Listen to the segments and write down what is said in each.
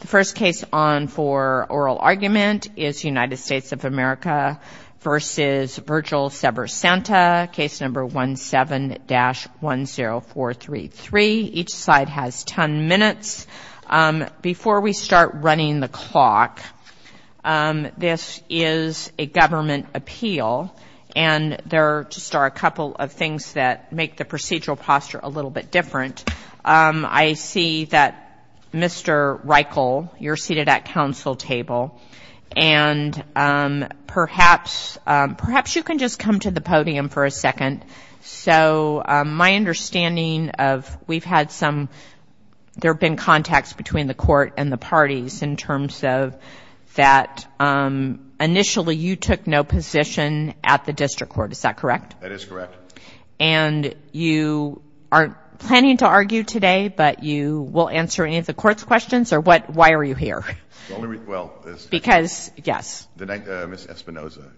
The first case on for oral argument is United States of America v. Virgil Sever Santa, case number 17-10433. Each side has 10 minutes. Before we start running the clock, this is a government appeal and there are just a couple of things that make the procedural posture a little bit different. I see that Mr. Reichel, you're seated at council table and perhaps you can just come to the podium for a second. So my understanding of, we've had some, there have been contacts between the court and the parties in terms of that initially you took no position at the district court, is that correct? That is correct. And you aren't planning to argue today, but you will answer any of the court's questions or what, why are you here? Because, yes. Ms. Espinoza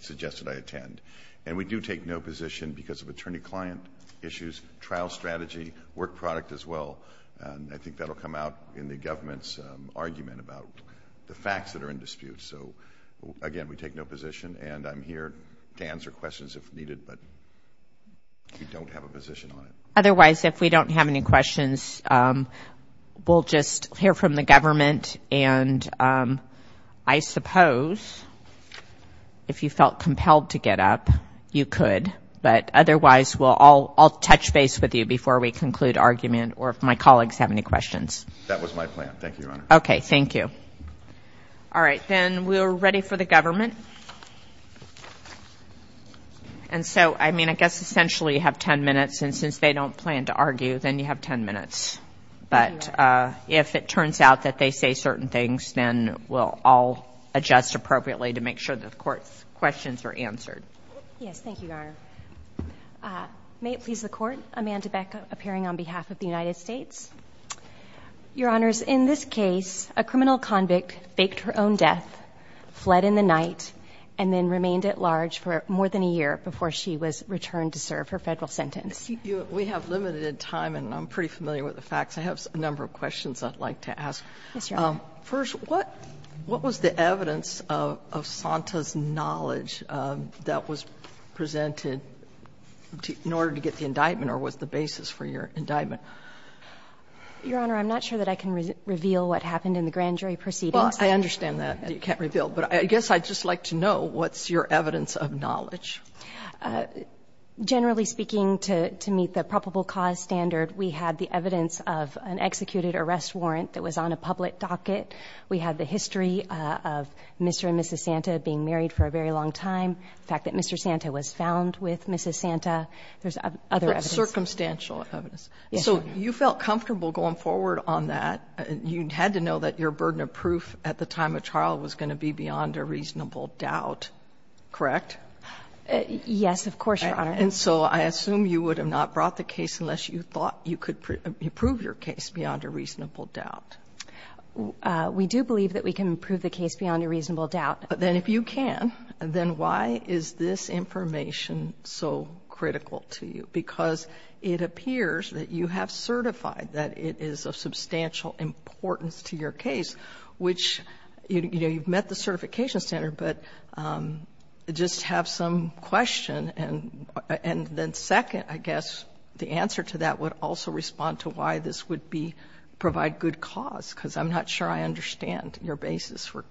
suggested I attend. And we do take no position because of attorney-client issues, trial strategy, work product as well. I think that will come out in the government's argument about the facts that are in dispute. So, again, we take no position. And I'm here to answer questions if needed, but we don't have a position on it. Otherwise, if we don't have any questions, we'll just hear from the government. And I suppose if you felt compelled to get up, you could. But otherwise, we'll all, I'll touch base with you before we conclude argument or if my colleagues have any questions. That was my plan. Thank you, Your Honor. Okay. Thank you. All right. Then we're ready for the government. And so, I mean, I guess essentially you have ten minutes. And since they don't plan to argue, then you have ten minutes. But if it turns out that they say certain things, then we'll all adjust appropriately to make sure that the court's questions are answered. Yes. Thank you, Your Honor. May it please the Court, Amanda Beck, appearing on behalf of the United States. Your Honors, in this case, a criminal convict faked her own death, fled in the night, and then remained at large for more than a year before she was returned to serve her federal sentence. We have limited time, and I'm pretty familiar with the facts. I have a number of questions I'd like to ask. Yes, Your Honor. First, what was the evidence of Sonta's knowledge that was presented in order to get the indictment or was the basis for your indictment? Your Honor, I'm not sure that I can reveal what happened in the grand jury proceedings. Well, I understand that. You can't reveal. But I guess I'd just like to know what's your evidence of knowledge. Generally speaking, to meet the probable cause standard, we had the evidence of an executed arrest warrant that was on a public docket. We had the history of Mr. and Mrs. Sonta being married for a very long time, the fact that Mr. Sonta was found with Mrs. Sonta. There's other evidence. Circumstantial evidence. Yes, Your Honor. So you felt comfortable going forward on that. You had to know that your burden of proof at the time of trial was going to be beyond a reasonable doubt, correct? Yes, of course, Your Honor. And so I assume you would have not brought the case unless you thought you could prove your case beyond a reasonable doubt. We do believe that we can prove the case beyond a reasonable doubt. Then if you can, then why is this information so critical to you? Because it appears that you have certified that it is of substantial importance to your case, which you've met the certification standard, but just have some question. And then second, I guess the answer to that would also respond to why this would provide good cause, because I'm not sure I understand your basis for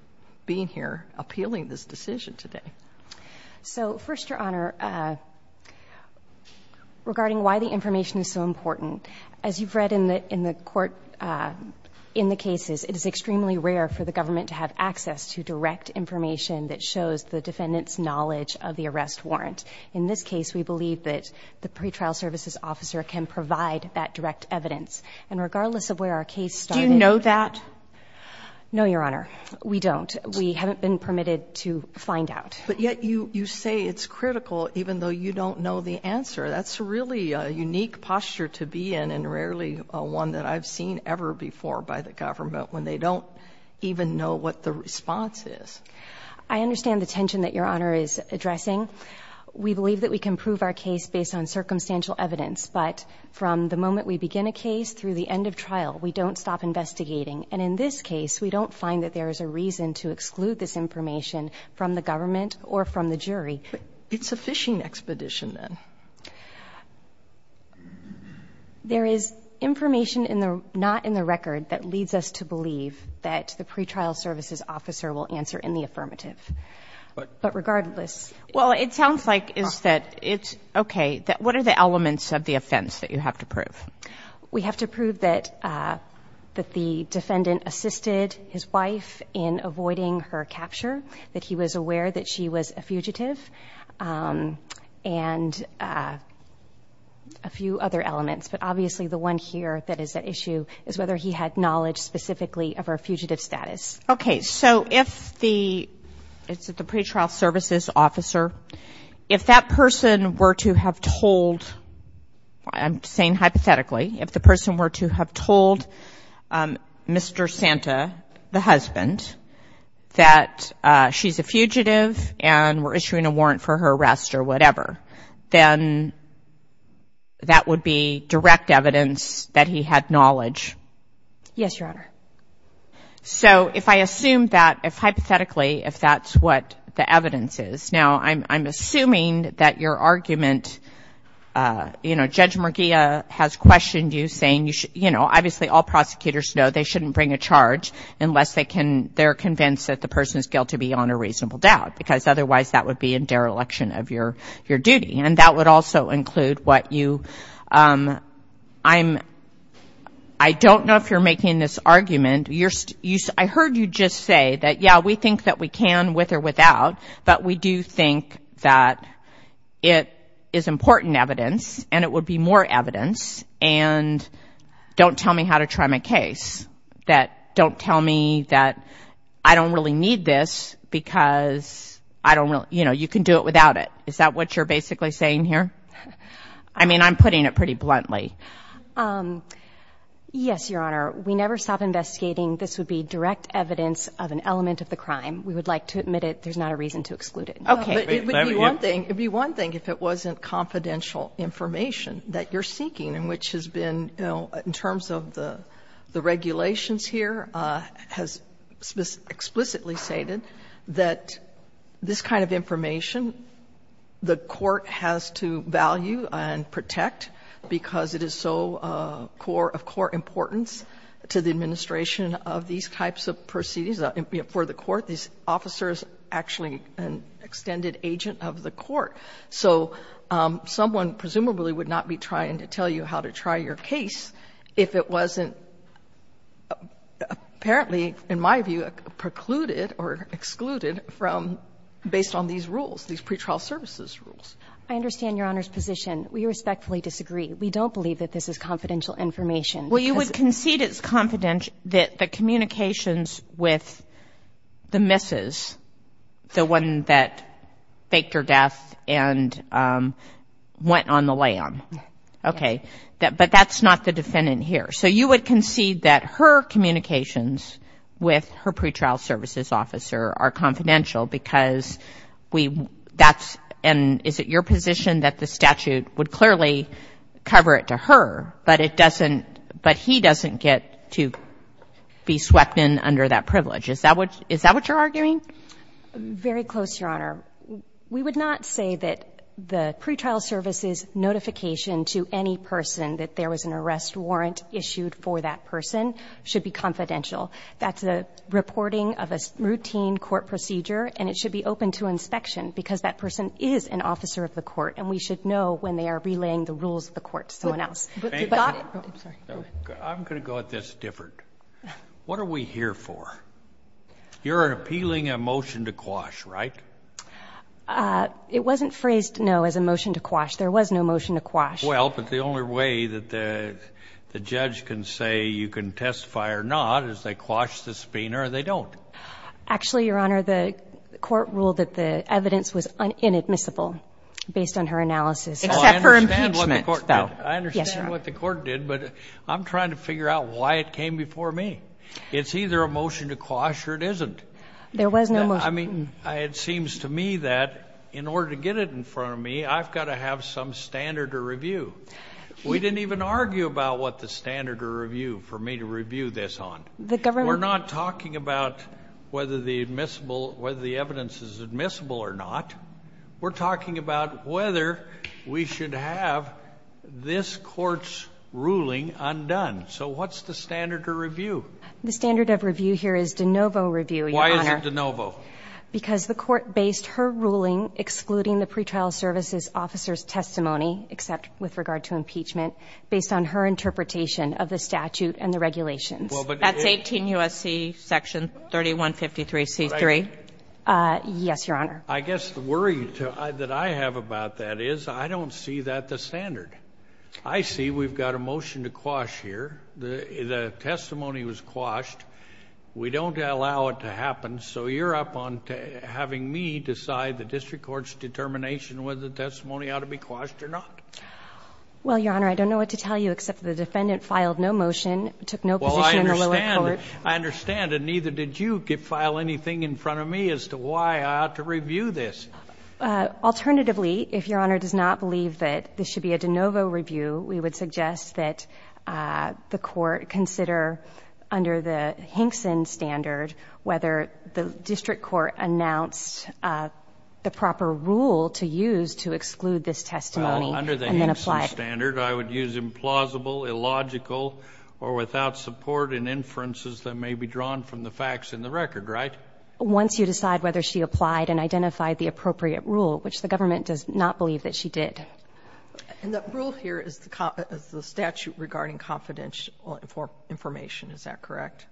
being here appealing this decision today. So first, Your Honor, regarding why the information is so important, as you've read in the court in the cases, it is extremely rare for the government to have access to direct information that shows the defendant's knowledge of the arrest warrant. In this case, we believe that the pretrial services officer can provide that direct evidence. And regardless of where our case started— No, Your Honor. We don't. We haven't been permitted to find out. But yet you say it's critical even though you don't know the answer. That's really a unique posture to be in and rarely one that I've seen ever before by the government when they don't even know what the response is. I understand the tension that Your Honor is addressing. We believe that we can prove our case based on circumstantial evidence. But from the moment we begin a case through the end of trial, we don't stop investigating. And in this case, we don't find that there is a reason to exclude this information from the government or from the jury. But it's a phishing expedition, then. There is information in the — not in the record that leads us to believe that the pretrial services officer will answer in the affirmative. But regardless — Well, it sounds like is that it's — okay. What are the elements of the offense that you have to prove? We have to prove that the defendant assisted his wife in avoiding her capture, that he was aware that she was a fugitive, and a few other elements. But obviously the one here that is at issue is whether he had knowledge specifically of her fugitive status. Okay. So if the — it's at the pretrial services officer. If that person were to have told — I'm saying hypothetically. If the person were to have told Mr. Santa, the husband, that she's a fugitive and we're issuing a warrant for her arrest or whatever, then that would be direct evidence that he had knowledge. Yes, Your Honor. So if I assume that, if hypothetically, if that's what the evidence is — now, I'm assuming that your argument — you know, Judge Murguia has questioned you, saying you should — you know, obviously all prosecutors know they shouldn't bring a charge unless they can — they're convinced that the person is guilty beyond a reasonable doubt, because otherwise that would be a dereliction of your duty. And that would also include what you — I'm — I don't know if you're making this argument. You're — I heard you just say that, yeah, we think that we can with or without, but we do think that it is important evidence and it would be more evidence. And don't tell me how to try my case. That — don't tell me that I don't really need this because I don't really — you know, you can do it without it. Is that what you're basically saying here? I mean, I'm putting it pretty bluntly. Yes, Your Honor. We never stop investigating. This would be direct evidence of an element of the crime. We would like to admit it. There's not a reason to exclude it. Okay. But it would be one thing — it would be one thing if it wasn't confidential information that you're seeking, in which has been — you know, in terms of the regulations here has explicitly stated that this kind of information the court has to value and protect because it is so core — of core importance to the administration of these types of proceedings. For the court, this officer is actually an extended agent of the court. So someone presumably would not be trying to tell you how to try your case if it wasn't apparently, in my view, precluded or excluded from — based on these rules, these pretrial services rules. I understand Your Honor's position. We respectfully disagree. We don't believe that this is confidential information because — Well, you would concede it's confidential — that the communications with the missus, the one that faked her death and went on the lam. Okay. But that's not the defendant here. So you would concede that her communications with her pretrial services officer are confidential because we — that's — and is it your position that the statute would clearly cover it to her, but it doesn't — but he doesn't get to be swept in under that privilege? Is that what — is that what you're arguing? Very close, Your Honor. We would not say that the pretrial services notification to any person that there was an arrest warrant issued for that person should be confidential. That's a reporting of a routine court procedure, and it should be open to inspection because that person is an officer of the court, and we should know when they are relaying the rules of the court to someone else. But — I'm going to go at this different. What are we here for? You're appealing a motion to quash, right? It wasn't phrased, no, as a motion to quash. There was no motion to quash. Well, but the only way that the judge can say you can testify or not is they quash the spina, or they don't. Actually, Your Honor, the court ruled that the evidence was inadmissible based on her analysis. Except for impeachment, though. I understand what the court did. Yes, Your Honor. I understand what the court did, but I'm trying to figure out why it came before me. It's either a motion to quash or it isn't. There was no motion. I mean, it seems to me that in order to get it in front of me, I've got to have some standard of review. We didn't even argue about what the standard of review for me to review this on. The government — We're not talking about whether the admissible — whether the evidence is admissible or not. We're talking about whether we should have this Court's ruling undone. So what's the standard of review? The standard of review here is de novo review, Your Honor. Why is it de novo? Because the court based her ruling excluding the pretrial services officer's testimony, except with regard to impeachment, based on her interpretation of the statute and the regulations. That's 18 U.S.C. section 3153C.3. Yes, Your Honor. I guess the worry that I have about that is I don't see that the standard. I see we've got a motion to quash here. The testimony was quashed. We don't allow it to happen. So you're up on having me decide the district court's determination whether the testimony ought to be quashed or not? Well, Your Honor, I don't know what to tell you, except the defendant filed no motion, took no position in the lower court. I understand. And neither did you file anything in front of me as to why I ought to review this. Alternatively, if Your Honor does not believe that this should be a de novo review, we would suggest that the court consider, under the Hinkson standard, whether the district court announced the proper rule to use to exclude this testimony and then apply it. Well, under the Hinkson standard, I would use implausible, illogical, or without support in inferences that may be drawn from the facts in the record, right? Once you decide whether she applied and identified the appropriate rule, which the government does not believe that she did. And the rule here is the statute regarding confidential information, is that correct?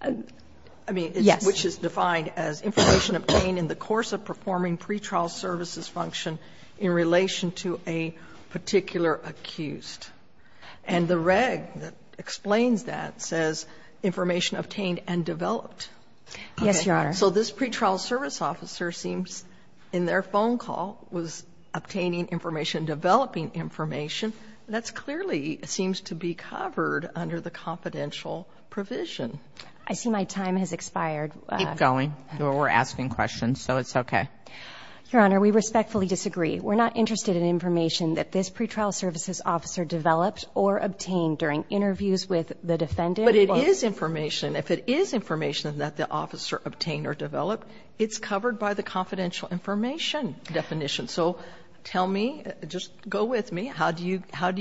I mean, which is defined as information obtained in the course of performing pretrial services function in relation to a particular accused. And the reg that explains that says information obtained and developed. Yes, Your Honor. So this pretrial service officer seems, in their phone call, was obtaining information, developing information. That clearly seems to be covered under the confidential provision. I see my time has expired. Keep going. We're asking questions, so it's okay. Your Honor, we respectfully disagree. We're not interested in information that this pretrial services officer developed or obtained during interviews with the defendant. But it is information. If it is information that the officer obtained or developed, it's covered by the confidential information definition. So tell me, just go with me, how do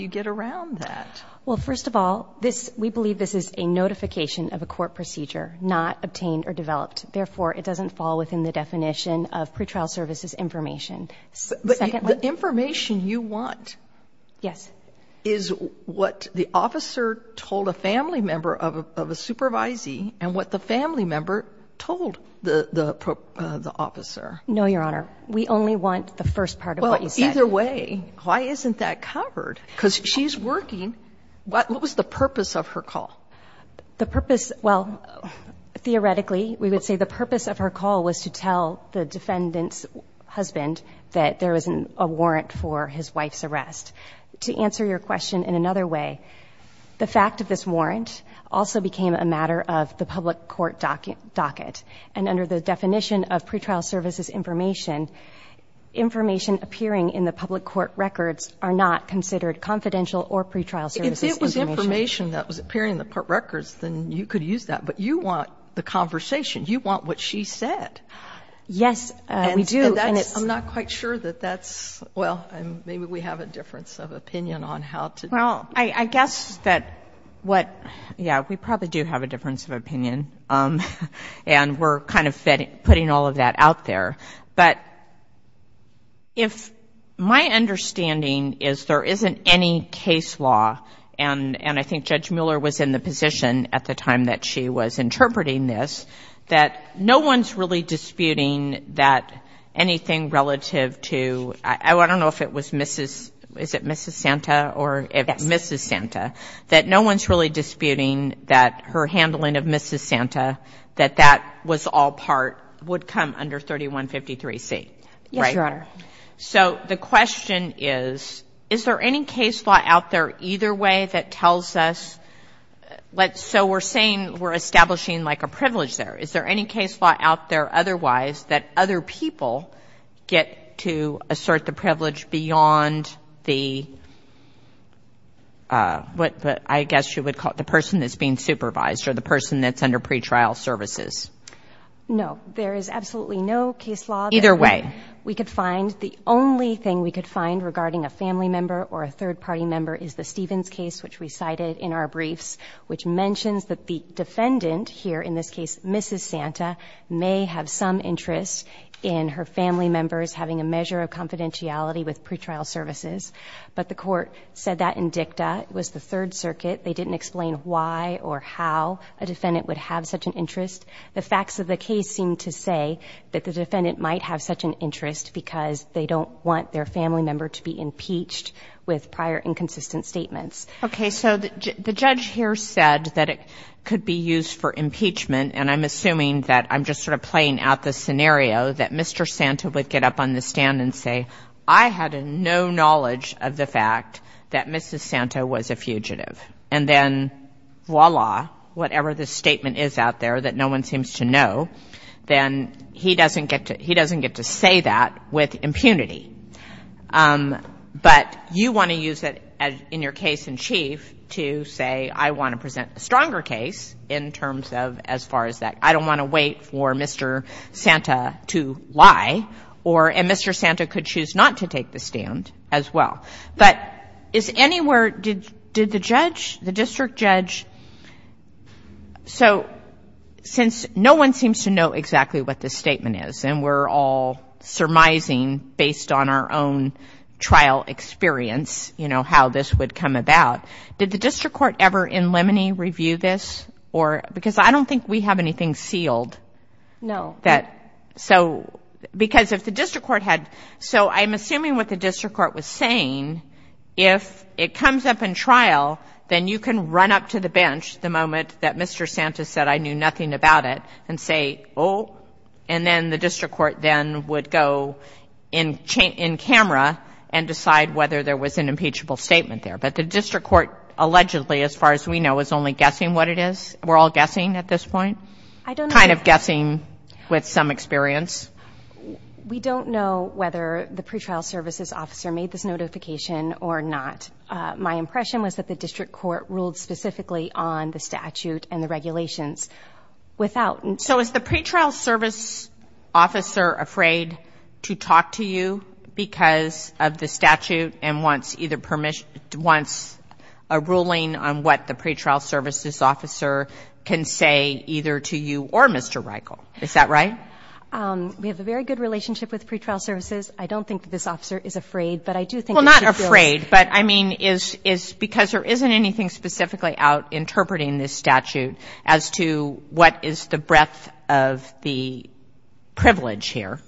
you get around that? Well, first of all, we believe this is a notification of a court procedure, not obtained or developed. Therefore, it doesn't fall within the definition of pretrial services information. But the information you want is what the officer told a family member of a supervisee and what the family member told the officer. No, Your Honor. We only want the first part of what you said. Well, either way, why isn't that covered? Because she's working. What was the purpose of her call? The purpose, well, theoretically, we would say the purpose of her call was to tell the there was a warrant for his wife's arrest. To answer your question in another way, the fact of this warrant also became a matter of the public court docket. And under the definition of pretrial services information, information appearing in the public court records are not considered confidential or pretrial services information. If it was information that was appearing in the court records, then you could use that. But you want the conversation. You want what she said. Yes, we do. I'm not quite sure that that's, well, maybe we have a difference of opinion on how to Well, I guess that what, yeah, we probably do have a difference of opinion. And we're kind of fitting, putting all of that out there. But if my understanding is there isn't any case law, and I think Judge Mueller was in the position at the time that she was interpreting this, that no one's really disputing that anything relative to, I don't know if it was Mrs., is it Mrs. Santa, or if Mrs. Santa, that no one's really disputing that her handling of Mrs. Santa, that that was all part, would come under 3153C, right? Yes, Your Honor. So the question is, is there any case law out there either way that tells us, so we're saying we're establishing like a privilege there. Is there any case law out there otherwise that other people get to assert the privilege beyond the, what I guess you would call it, the person that's being supervised or the person that's under pretrial services? No, there is absolutely no case law that we could find. Either way. The only thing we could find regarding a family member or a third party member is the Stevens case, which we cited in our briefs, which mentions that the defendant here, in this case Mrs. Santa, may have some interest in her family members having a measure of confidentiality with pretrial services, but the court said that in dicta. It was the Third Circuit. They didn't explain why or how a defendant would have such an interest. The facts of the case seem to say that the defendant might have such an interest because they don't want their inconsistent statements. Okay. So the judge here said that it could be used for impeachment, and I'm assuming that I'm just sort of playing out the scenario that Mr. Santa would get up on the stand and say, I had no knowledge of the fact that Mrs. Santa was a fugitive. And then, voila, whatever the statement is out there that no one seems to know, then he doesn't get to say that with in your case in chief to say, I want to present a stronger case in terms of as far as that I don't want to wait for Mr. Santa to lie, or, and Mr. Santa could choose not to take the stand as well. But is anywhere, did the judge, the district judge, so since no one seems to know exactly what this statement is, and we're all surmising based on our own how this would come about, did the district court ever in Lemony review this? Or, because I don't think we have anything sealed that, so, because if the district court had, so I'm assuming what the district court was saying, if it comes up in trial, then you can run up to the bench the moment that Mr. Santa said, I knew nothing about it, and say, oh, and then the district court then would go in camera and decide whether there was an impeachable statement there. But the district court allegedly, as far as we know, is only guessing what it is. We're all guessing at this point. I don't know. Kind of guessing with some experience. We don't know whether the pretrial services officer made this notification or not. My impression was that the district court ruled specifically on the statute and the regulations without. So is the pretrial service officer afraid to talk to you because of the statute and wants either permission, wants a ruling on what the pretrial services officer can say either to you or Mr. Reichel? Is that right? We have a very good relationship with pretrial services. I don't think that this officer is afraid, but I do think that she feels. Well, not afraid, but I mean, is, is, because there isn't anything specifically out interpreting this statute as to what is the breadth of the privilege here.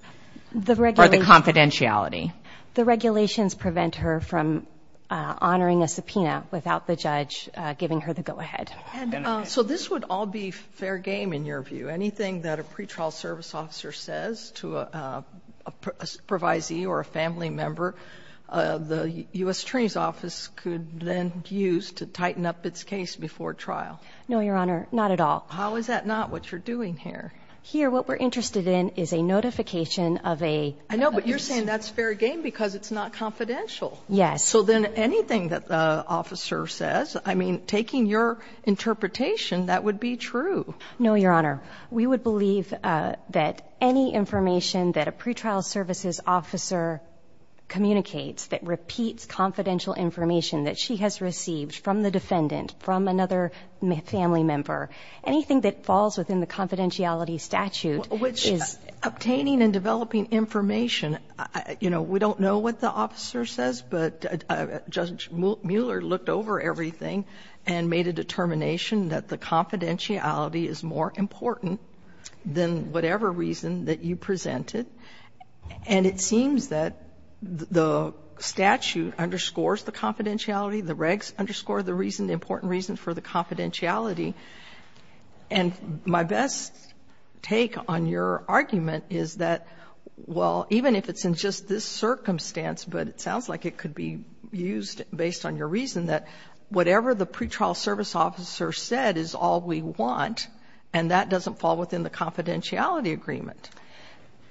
The regulation. The regulations prevent her from honoring a subpoena without the judge giving her the go ahead. So this would all be fair game in your view, anything that a pretrial service officer says to a provisee or a family member, the U.S. attorney's office could then use to tighten up its case before trial. No, Your Honor. Not at all. How is that not what you're doing here? Here, what we're interested in is a notification of a... I know, but you're saying that's fair game because it's not confidential. Yes. So then anything that the officer says, I mean, taking your interpretation, that would be true. No, Your Honor. We would believe that any information that a pretrial services officer communicates that repeats confidential information that she has received from the defendant, from another family member, anything that falls within the confidentiality statute is... Well, obtaining and developing information, you know, we don't know what the officer says, but Judge Mueller looked over everything and made a determination that the confidentiality is more important than whatever reason that you presented. And it seems that the statute underscores the confidentiality, the regs underscore the reason, the important reason for the confidentiality, and my best take on your argument is that, well, even if it's in just this circumstance, but it sounds like it could be used based on your reason, that whatever the pretrial service officer said is all we want, and that doesn't fall within the confidentiality agreement.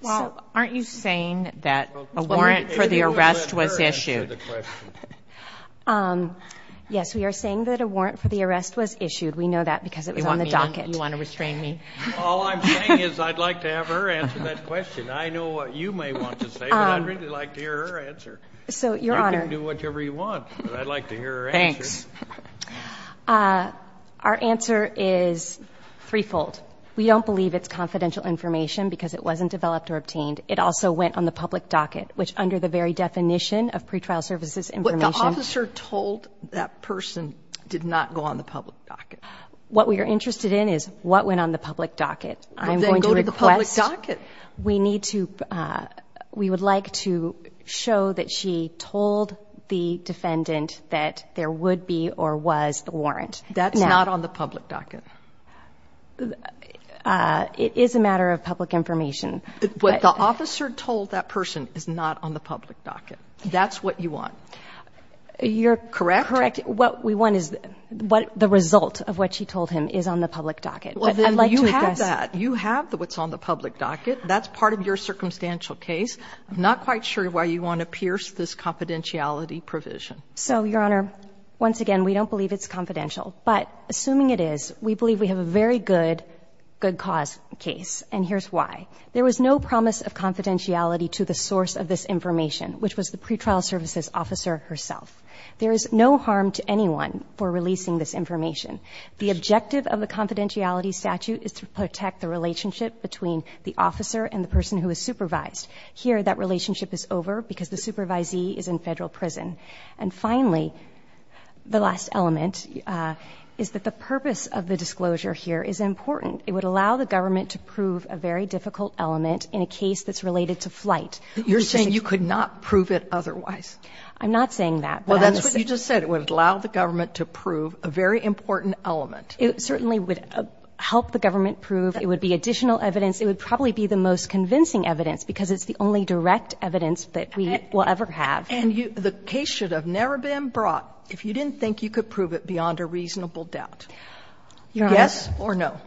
Well, aren't you saying that a warrant for the arrest was issued? Yes, we are saying that a warrant for the arrest was issued. We know that because it was on the docket. You want to restrain me? All I'm saying is I'd like to have her answer that question. I know what you may want to say, but I'd really like to hear her answer. So, Your Honor... You can do whatever you want, but I'd like to hear her answer. Thanks. Our answer is threefold. We don't believe it's confidential information because it wasn't developed or obtained. It also went on the public docket, which under the very definition of pretrial services information... What the officer told that person did not go on the public docket. What we are interested in is what went on the public docket. I'm going to request... Well, then go to the public docket. We need to... We would like to show that she told the defendant that there would be or was the warrant. That's not on the public docket. It is a matter of public information. What the officer told that person is not on the public docket. You're correct? Correct. What we want is the result of what she told him is on the public docket. I'd like to address... Well, then you have that. You have what's on the public docket. That's part of your circumstantial case. I'm not quite sure why you want to pierce this confidentiality provision. So, Your Honor, once again, we don't believe it's confidential, but assuming it is, we believe we have a very good, good cause case, and here's why. There was no promise of confidentiality to the source of this information, which was the pretrial services officer herself. There is no harm to anyone for releasing this information. The objective of the confidentiality statute is to protect the relationship between the officer and the person who is supervised. Here, that relationship is over because the supervisee is in Federal prison. And finally, the last element is that the purpose of the disclosure here is important. It would allow the government to prove a very difficult element in a case that's related to flight. You're saying you could not prove it otherwise. I'm not saying that. Well, that's what you just said. It would allow the government to prove a very important element. It certainly would help the government prove. It would be additional evidence. It would probably be the most convincing evidence because it's the only direct evidence that we will ever have. And you – the case should have never been brought if you didn't think you could prove it beyond a reasonable doubt. Your Honor... Yes or no?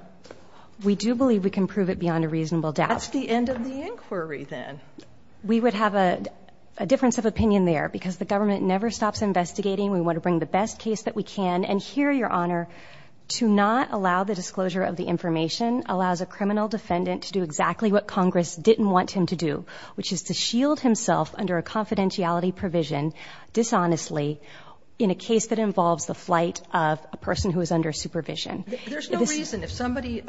We do believe we can prove it beyond a reasonable doubt. That's the end of the inquiry, then. We would have a difference of opinion there because the government never stops investigating. We want to bring the best case that we can. And here, Your Honor, to not allow the disclosure of the information allows a criminal defendant to do exactly what Congress didn't want him to do, which is to shield himself under a confidentiality provision dishonestly in a case that involves the flight of a person who is under supervision. There's no reason if somebody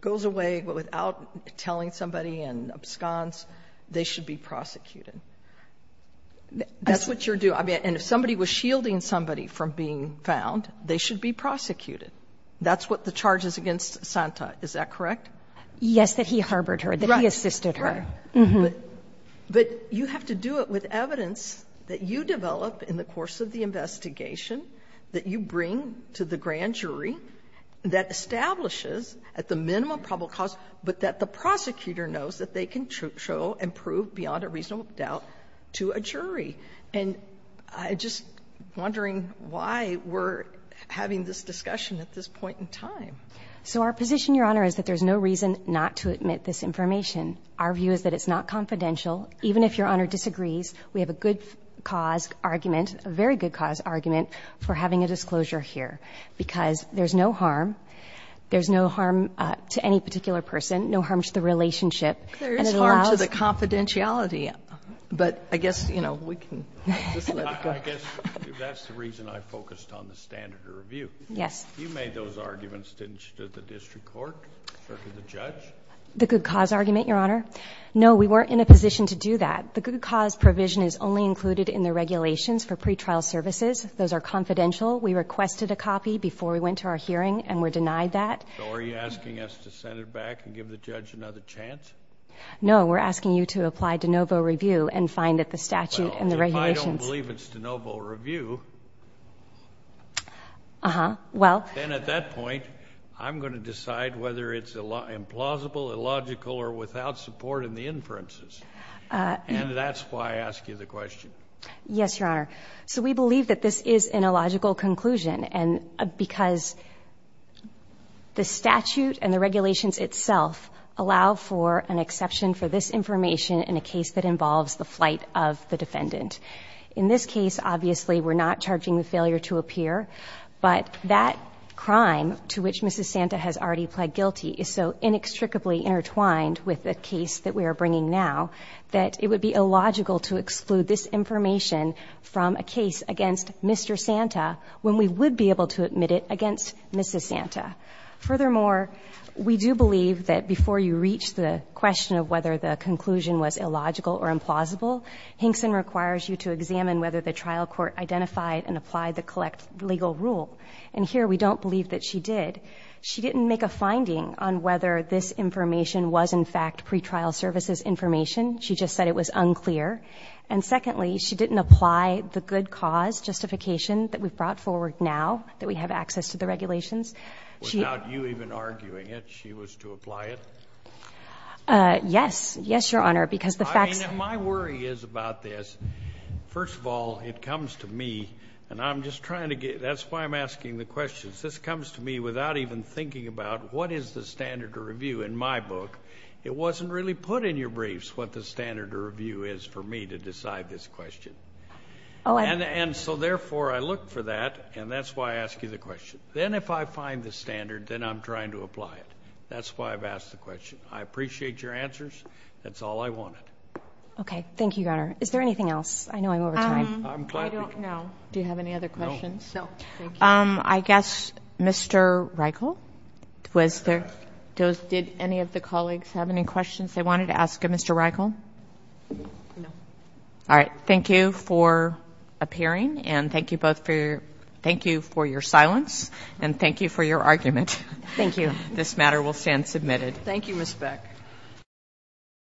goes away without telling somebody and absconds, they should be prosecuted. That's what you're doing. And if somebody was shielding somebody from being found, they should be prosecuted. That's what the charge is against Santa. Is that correct? Yes, that he harbored her, that he assisted her. Right. But you have to do it with evidence that you develop in the course of the case. And you have to do it with evidence that you bring to the grand jury that establishes at the minimum probable cause, but that the prosecutor knows that they can show and prove beyond a reasonable doubt to a jury. And I'm just wondering why we're having this discussion at this point in time. So our position, Your Honor, is that there's no reason not to admit this information. Our view is that it's not confidential. Even if Your Honor disagrees, we have a good cause argument for having a disclosure here. Because there's no harm, there's no harm to any particular person, no harm to the relationship. There is harm to the confidentiality. But I guess, you know, we can just let it go. I guess that's the reason I focused on the standard of review. Yes. You made those arguments, didn't you, to the district court or to the judge? The good cause argument, Your Honor. No, we weren't in a position to do that. The good cause provision is only included in the regulations for pretrial services. Those are confidential. We requested a copy before we went to our hearing, and we're denied that. So are you asking us to send it back and give the judge another chance? No, we're asking you to apply de novo review and find that the statute and the regulations— Well, if I don't believe it's de novo review— Uh-huh. Well— Then at that point, I'm going to decide whether it's implausible, illogical, or without support in the inferences. And that's why I ask you the question. Yes, Your Honor. So we believe that this is an illogical conclusion because the statute and the regulations itself allow for an exception for this information in a case that involves the flight of the defendant. In this case, obviously, we're not charging the failure to appear, but that crime to which Mrs. Santa has already pled guilty is so inextricably intertwined with the case that we are bringing now that it would be illogical to exclude this information from a case against Mr. Santa when we would be able to admit it against Mrs. Santa. Furthermore, we do believe that before you reach the question of whether the conclusion was illogical or implausible, Hinkson requires you to examine whether the trial court identified and applied the legal rule. And here, we don't believe that she did. She didn't make a finding on whether this information was, in fact, pretrial services information. She just said it was unclear. And secondly, she didn't apply the good cause justification that we've brought forward now, that we have access to the regulations. Without you even arguing it, she was to apply it? Yes. Yes, Your Honor, because the facts— My worry is about this. First of all, it comes to me, and I'm just trying to get—that's why I'm asking the questions. This comes to me without even thinking about what is the standard to review. In my book, it wasn't really put in your briefs what the standard to review is for me to decide this question. And so, therefore, I look for that, and that's why I ask you the question. Then if I find the standard, then I'm trying to apply it. That's why I've asked the question. I appreciate your answers. That's all I wanted. Okay. Thank you, Your Honor. Is there anything else? I know I'm over time. I'm glad— I don't know. Do you have any other questions? No. Thank you. I guess, Mr. Reichel, was there—did any of the colleagues have any questions they wanted to ask of Mr. Reichel? No. All right. Thank you for appearing, and thank you both for—thank you for your silence, and thank you for your argument. Thank you. This matter will stand submitted. Thank you, Ms. Beck.